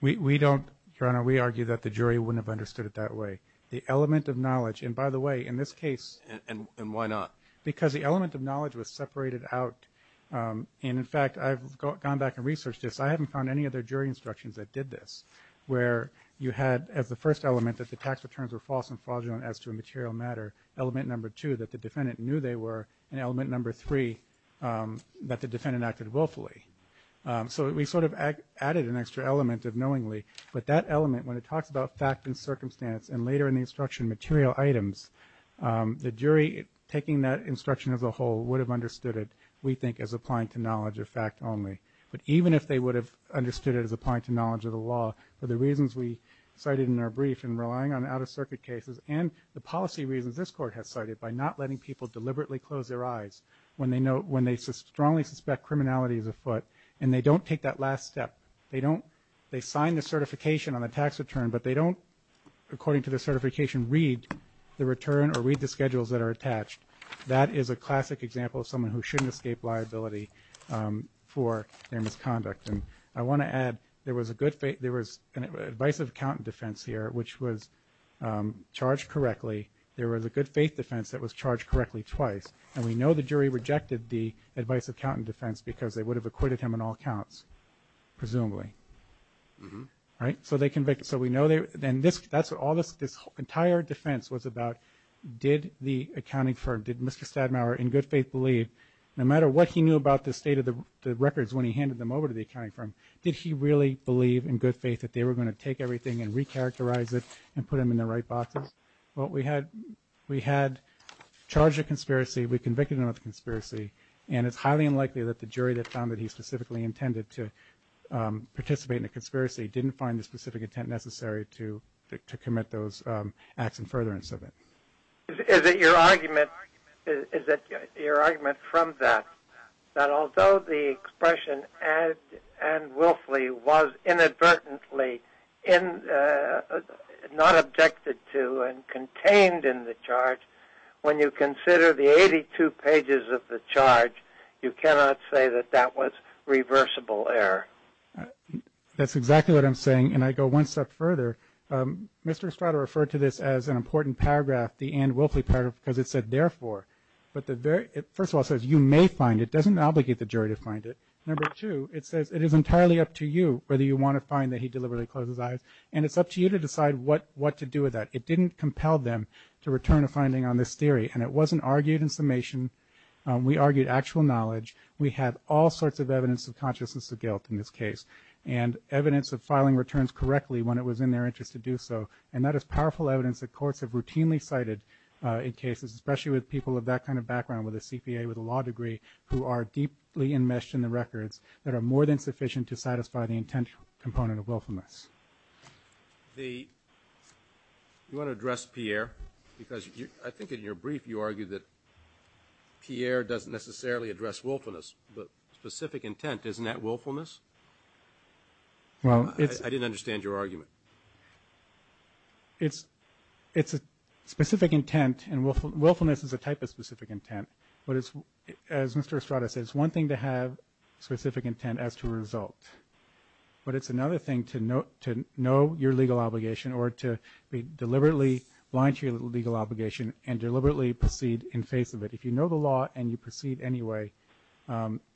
We don't, Your Honor, we argue that the jury wouldn't have understood it that way. The element of knowledge, and by the way, in this case. And why not? Because the element of knowledge was separated out. And, in fact, I've gone back and researched this. I haven't found any other jury instructions that did this, where you had, as the first element, that the tax returns were false and fraudulent as to a material matter, element number two, that the defendant knew they were, and element number three, that the defendant acted willfully. So we sort of added an extra element of knowingly. But that element, when it talks about fact and circumstance, and later in the instruction, material items, the jury, taking that instruction as a whole, would have understood it, we think, as applying to knowledge of fact only. But even if they would have understood it as applying to knowledge of the law, for the reasons we cited in our brief in relying on out-of-circuit cases and the policy reasons this Court has cited by not letting people deliberately close their eyes when they strongly suspect criminality is afoot, and they don't take that last step, they sign the certification on the tax return, but they don't, according to the certification, read the return or read the schedules that are attached. That is a classic example of someone who shouldn't escape liability for their misconduct. And I want to add, there was an advice of account and defense here, which was charged correctly. There was a good faith defense that was charged correctly twice. And we know the jury rejected the advice of account and defense because they would have acquitted him on all counts, presumably. So we know that this entire defense was about did the accounting firm, did Mr. Stadmauer in good faith believe, no matter what he knew about the state of the records when he handed them over to the accounting firm, did he really believe in good faith that they were going to take everything and recharacterize it and put them in the right boxes? Well, we had charged a conspiracy, we convicted them of a conspiracy, and it's highly unlikely that the jury that found that he specifically intended to participate in a conspiracy didn't find the specific intent necessary to commit those acts in furtherance of it. Is it your argument from that, that although the expression Ann Wilfley was inadvertently not objected to and contained in the charge, when you consider the 82 pages of the charge, you cannot say that that was reversible error? That's exactly what I'm saying, and I go one step further. Mr. Estrada referred to this as an important paragraph, the Ann Wilfley paragraph, because it said, therefore, but first of all, it says you may find it. It doesn't obligate the jury to find it. Number two, it says it is entirely up to you whether you want to find that he deliberately closed his eyes, and it's up to you to decide what to do with that. It didn't compel them to return a finding on this theory, and it wasn't argued in summation. We argued actual knowledge. We had all sorts of evidence of consciousness of guilt in this case and evidence of filing returns correctly when it was in their interest to do so, and that is powerful evidence that courts have routinely cited in cases, especially with people of that kind of background, with a CPA, with a law degree, who are deeply enmeshed in the records that are more than sufficient to satisfy the intent component of wilfulness. You want to address Pierre? Because I think in your brief you argued that Pierre doesn't necessarily address willfulness, but specific intent, isn't that willfulness? I didn't understand your argument. It's a specific intent, and willfulness is a type of specific intent, but as Mr. Estrada said, it's one thing to have specific intent as to a result, but it's another thing to know your legal obligation or to be deliberately blind to your legal obligation and deliberately proceed in face of it. If you know the law and you proceed anyway,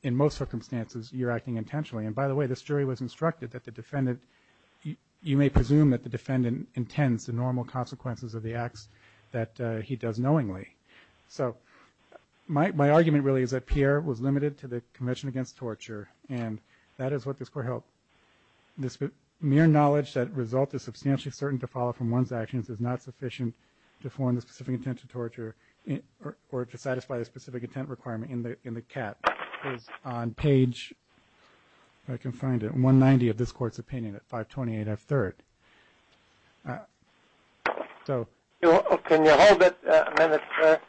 in most circumstances you're acting intentionally. And by the way, this jury was instructed that the defendant, you may presume that the defendant intends the normal consequences of the acts that he does knowingly. So my argument really is that Pierre was limited to the Convention Against Torture, and that is what this court held. This mere knowledge that result is substantially certain to follow from one's actions is not sufficient to form the specific intent to torture or to satisfy the specific intent requirement in the cat is on page, if I can find it, 190 of this court's opinion at 528F3rd. Can you hold it a minute, sir?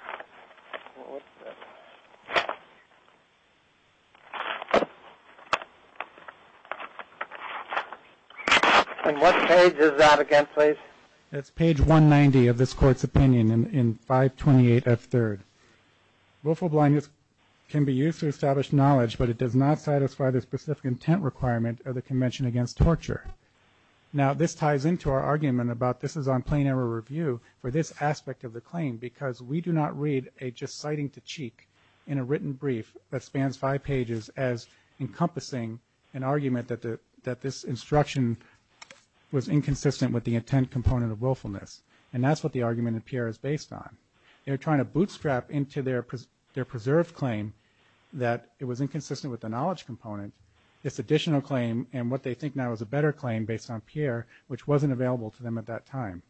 And what page is that again, please? It's page 190 of this court's opinion in 528F3rd. Willful blindness can be used to establish knowledge, but it does not satisfy the specific intent requirement of the Convention Against Torture. Now, this ties into our argument about this is on plain error review for this aspect of the claim, because we do not read a just sighting to cheek in a written brief that spans five pages as encompassing an argument that this instruction was inconsistent with the intent component of willfulness. And that's what the argument in Pierre is based on. They're trying to bootstrap into their preserved claim that it was inconsistent with the knowledge component. It's an additional claim, and what they think now is a better claim based on Pierre, which wasn't available to them at that time.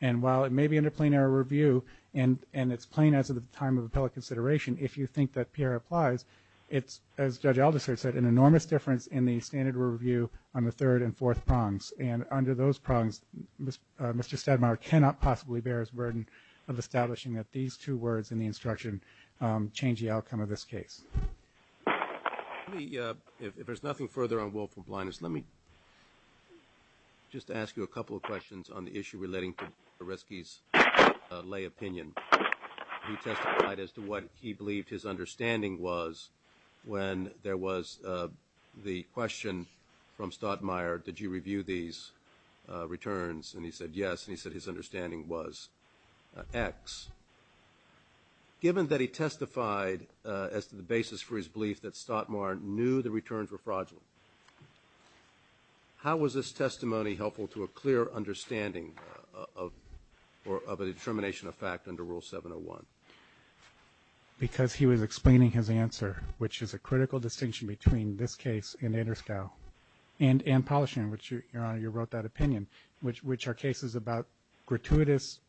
And while it may be under plain error review, and it's plain as of the time of appellate consideration, if you think that Pierre applies, it's, as Judge Aldister said, an enormous difference in the standard review on the third and fourth prongs. And under those prongs, Mr. Stadmayer cannot possibly bear his burden of establishing that these two words in the instruction change the outcome of this case. Let me, if there's nothing further on willful blindness, let me just ask you a couple of questions on the issue relating to Boresky's lay opinion. He testified as to what he believed his understanding was when there was the question from Stadmayer, did you review these returns, and he said yes, and he said his understanding was X. Given that he testified as to the basis for his belief that Stadmayer knew the returns were fraudulent, how was this testimony helpful to a clear understanding of a determination of fact under Rule 701? Because he was explaining his answer, which is a critical distinction between this case and Ederstow and Polishin, which, Your Honor, you wrote that opinion, which are cases about gratuitous,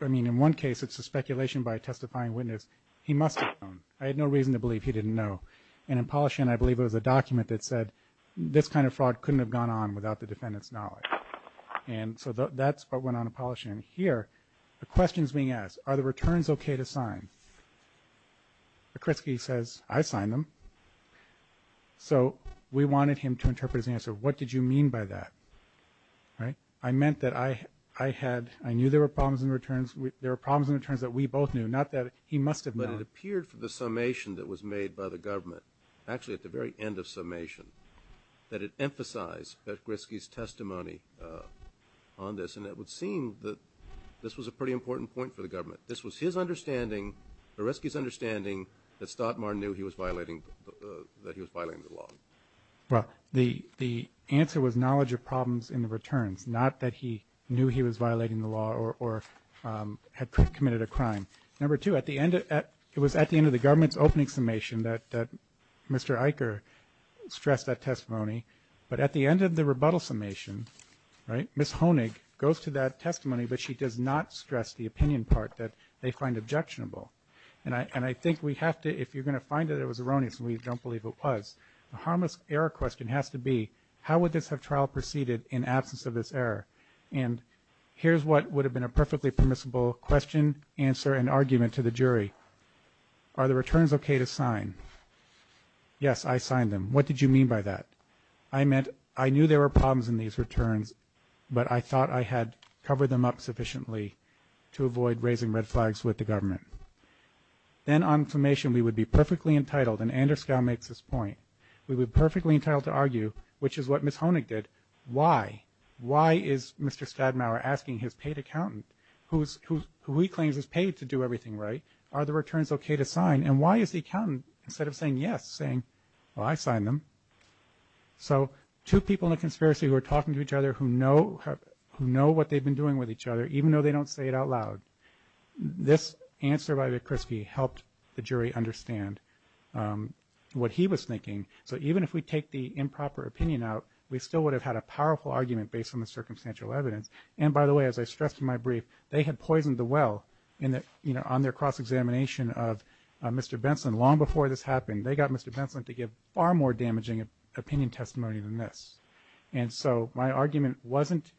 I mean, in one case it's a speculation by a testifying witness. He must have known. I had no reason to believe he didn't know. And in Polishin, I believe it was a document that said this kind of fraud couldn't have gone on without the defendant's knowledge. And so that's what went on in Polishin. Here, the question is being asked, are the returns okay to sign? O'Kriski says, I signed them. So we wanted him to interpret his answer. What did you mean by that? I meant that I had ñ I knew there were problems in returns. There were problems in returns that we both knew, not that he must have known. But it appeared from the summation that was made by the government, actually at the very end of summation, that it emphasized O'Kriski's testimony on this. And it would seem that this was a pretty important point for the government. This was his understanding, O'Kriski's understanding, that Stadmayer knew he was violating the law. Well, the answer was knowledge of problems in the returns, not that he knew he was violating the law or had committed a crime. Number two, it was at the end of the government's opening summation that Mr. Eicher stressed that testimony. But at the end of the rebuttal summation, right, Ms. Honig goes to that testimony, but she does not stress the opinion part that they find objectionable. And I think we have to, if you're going to find that it was erroneous and we don't believe it was, the harmless error question has to be, how would this have trial proceeded in absence of this error? And here's what would have been a perfectly permissible question, answer, and argument to the jury. Are the returns okay to sign? Yes, I signed them. What did you mean by that? I meant I knew there were problems in these returns, to avoid raising red flags with the government. Then on summation we would be perfectly entitled, and Anders Gau makes this point, we would be perfectly entitled to argue, which is what Ms. Honig did, why is Mr. Stadmauer asking his paid accountant, who he claims is paid to do everything right, are the returns okay to sign, and why is the accountant, instead of saying yes, saying, well, I signed them. So two people in a conspiracy who are talking to each other who know what they've been doing with each other, even though they don't say it out loud. This answer by the Krispy helped the jury understand what he was thinking. So even if we take the improper opinion out, we still would have had a powerful argument based on the circumstantial evidence. And by the way, as I stressed in my brief, they had poisoned the well on their cross-examination of Mr. Benson. Long before this happened, they got Mr. Benson to give far more damaging opinion testimony than this. And so my argument wasn't,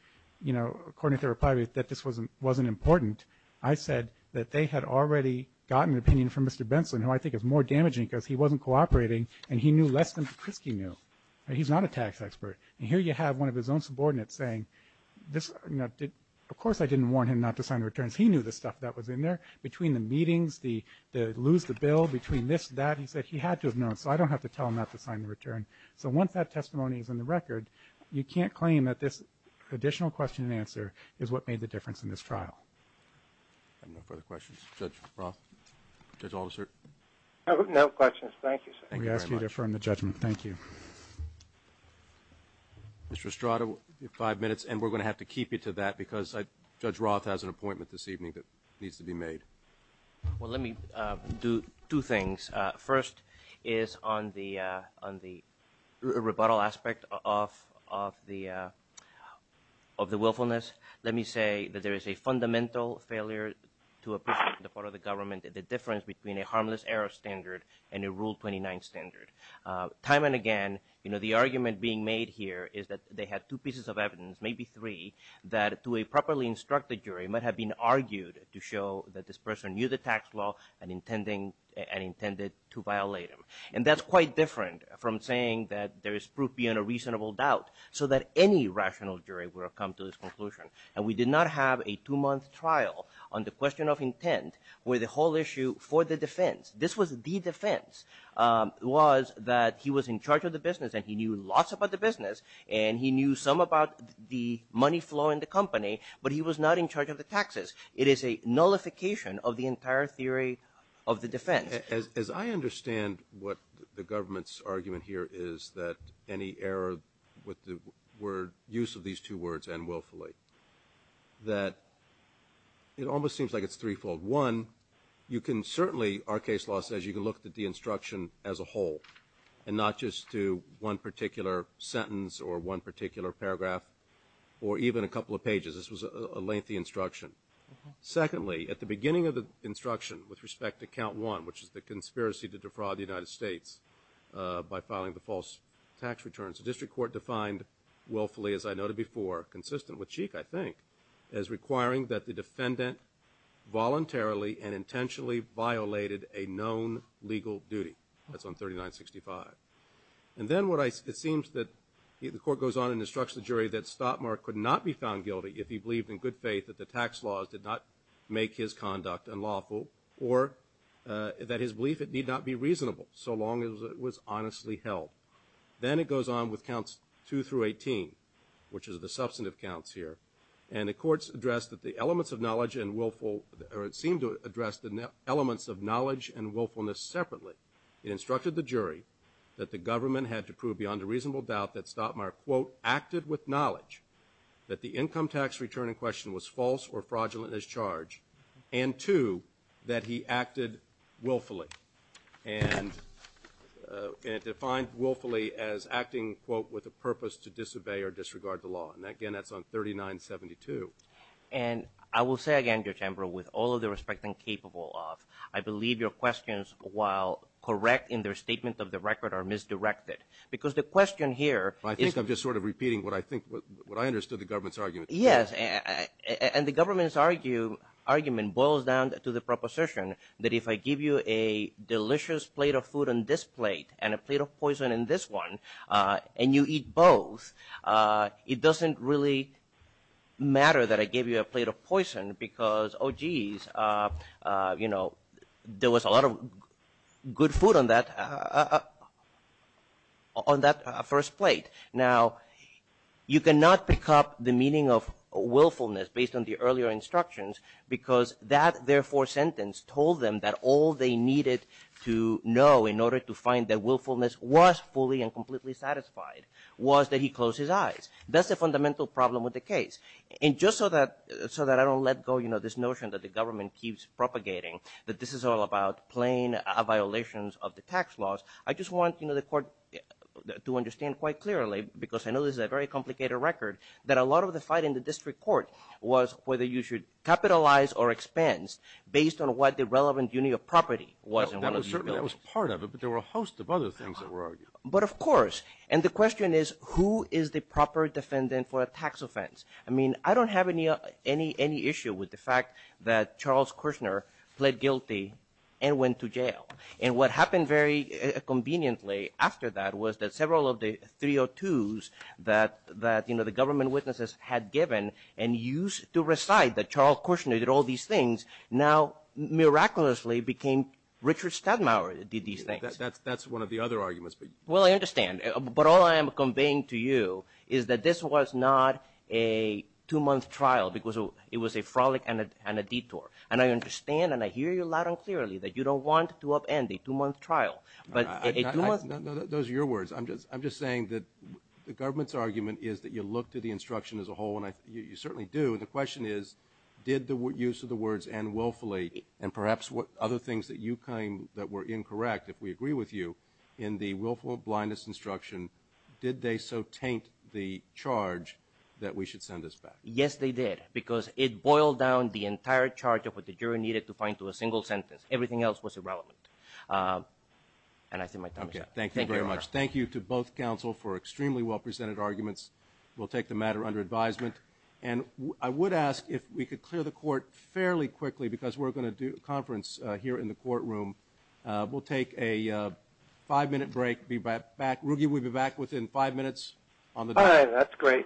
according to their reply, that this wasn't important. I said that they had already gotten an opinion from Mr. Benson, who I think is more damaging because he wasn't cooperating, and he knew less than Krispy knew. He's not a tax expert. And here you have one of his own subordinates saying, of course I didn't warn him not to sign the returns. He knew the stuff that was in there. Between the meetings, the lose the bill, between this and that, he said he had to have known, so I don't have to tell him not to sign the return. So once that testimony is in the record, you can't claim that this additional question and answer is what made the difference in this trial. I have no further questions. Judge Roth? Judge Alderser? No questions. Thank you, sir. We ask you to affirm the judgment. Thank you. Mr. Estrada, you have five minutes, and we're going to have to keep you to that because Judge Roth has an appointment this evening that needs to be made. Well, let me do two things. First is on the rebuttal aspect of the willfulness. Let me say that there is a fundamental failure to appreciate on the part of the government the difference between a harmless error standard and a Rule 29 standard. Time and again, you know, the argument being made here is that they had two pieces of evidence, maybe three, that to a properly instructed jury might have been argued to show that this person knew the tax law and intended to violate them. And that's quite different from saying that there is proof beyond a reasonable doubt so that any rational jury would have come to this conclusion. And we did not have a two-month trial on the question of intent where the whole issue for the defense, this was the defense, was that he was in charge of the business and he knew lots about the business and he knew some about the money flow in the company, but he was not in charge of the taxes. It is a nullification of the entire theory of the defense. As I understand what the government's argument here is, that any error with the use of these two words, and willfully, that it almost seems like it's threefold. One, you can certainly, our case law says, you can look at the instruction as a whole and not just to one particular sentence or one particular paragraph or even a couple of pages. This was a lengthy instruction. Secondly, at the beginning of the instruction with respect to count one, which is the conspiracy to defraud the United States by filing the false tax returns, the district court defined willfully, as I noted before, consistent with Cheek, I think, as requiring that the defendant voluntarily and intentionally violated a known legal duty. That's on 3965. And then it seems that the court goes on and instructs the jury that he believed in good faith that the tax laws did not make his conduct unlawful or that his belief it need not be reasonable so long as it was honestly held. Then it goes on with counts two through 18, which is the substantive counts here, and the courts addressed that the elements of knowledge and willful, or it seemed to address the elements of knowledge and willfulness separately. reasonable doubt that Stottmeyer, quote, acted with knowledge that the income tax return in question was false or fraudulent as charged. And two, that he acted willfully. And it defined willfully as acting, quote, with a purpose to disobey or disregard the law. And again, that's on 3972. And I will say again, Judge Ambrose, with all of the respect I'm capable of, I believe your questions, while correct in their statement of the record, are misdirected. Because the question here is. I think I'm just sort of repeating what I think, what I understood the government's argument. Yes. And the government's argument boils down to the proposition that if I give you a delicious plate of food on this plate and a plate of poison in this one and you eat both, it doesn't really matter that I gave you a plate of poison because, oh, geez, you know, there was a lot of good food on that, on that first plate. Now, you cannot pick up the meaning of willfulness based on the earlier instructions because that, therefore, sentence told them that all they needed to know in order to find that willfulness was fully and completely satisfied was that he close his eyes. That's the fundamental problem with the case. And just so that I don't let go, you know, this notion that the government keeps propagating that this is all about plain violations of the tax laws. I just want, you know, the court to understand quite clearly because I know this is a very complicated record, that a lot of the fight in the district court was whether you should capitalize or expense based on what the relevant unit of property was. That was part of it, but there were a host of other things that were argued. But of course. And the question is who is the proper defendant for a tax offense? I mean, I don't have any issue with the fact that Charles Kushner pled guilty and went to jail. And what happened very conveniently after that was that several of the 302s that, you know, the government witnesses had given and used to recite that Charles Kushner did all these things now miraculously became Richard Stadmauer did these things. That's one of the other arguments. Well, I understand. But all I am conveying to you is that this was not a two month trial because it was a frolic and a detour. And I understand and I hear you loud and clearly that you don't want to up end a two month trial, but those are your words. I'm just, I'm just saying that the government's argument is that you look to the instruction as a whole. And you certainly do. And the question is, did the use of the words and willfully and perhaps what other things that you claim that were incorrect. If we agree with you in the willful blindness instruction, did they so taint the charge that we should send us back? Yes, they did because it boiled down the entire charge of what the jury needed to find to a single sentence. Everything else was irrelevant. And I think my time is up. Thank you very much. Thank you to both counsel for extremely well presented arguments. We'll take the matter under advisement. And I would ask if we could clear the court fairly quickly because we're going to do a conference here in the courtroom. We'll take a five minute break. Be right back. Ruggie, we'll be back within five minutes. All right. That's great. Thank you.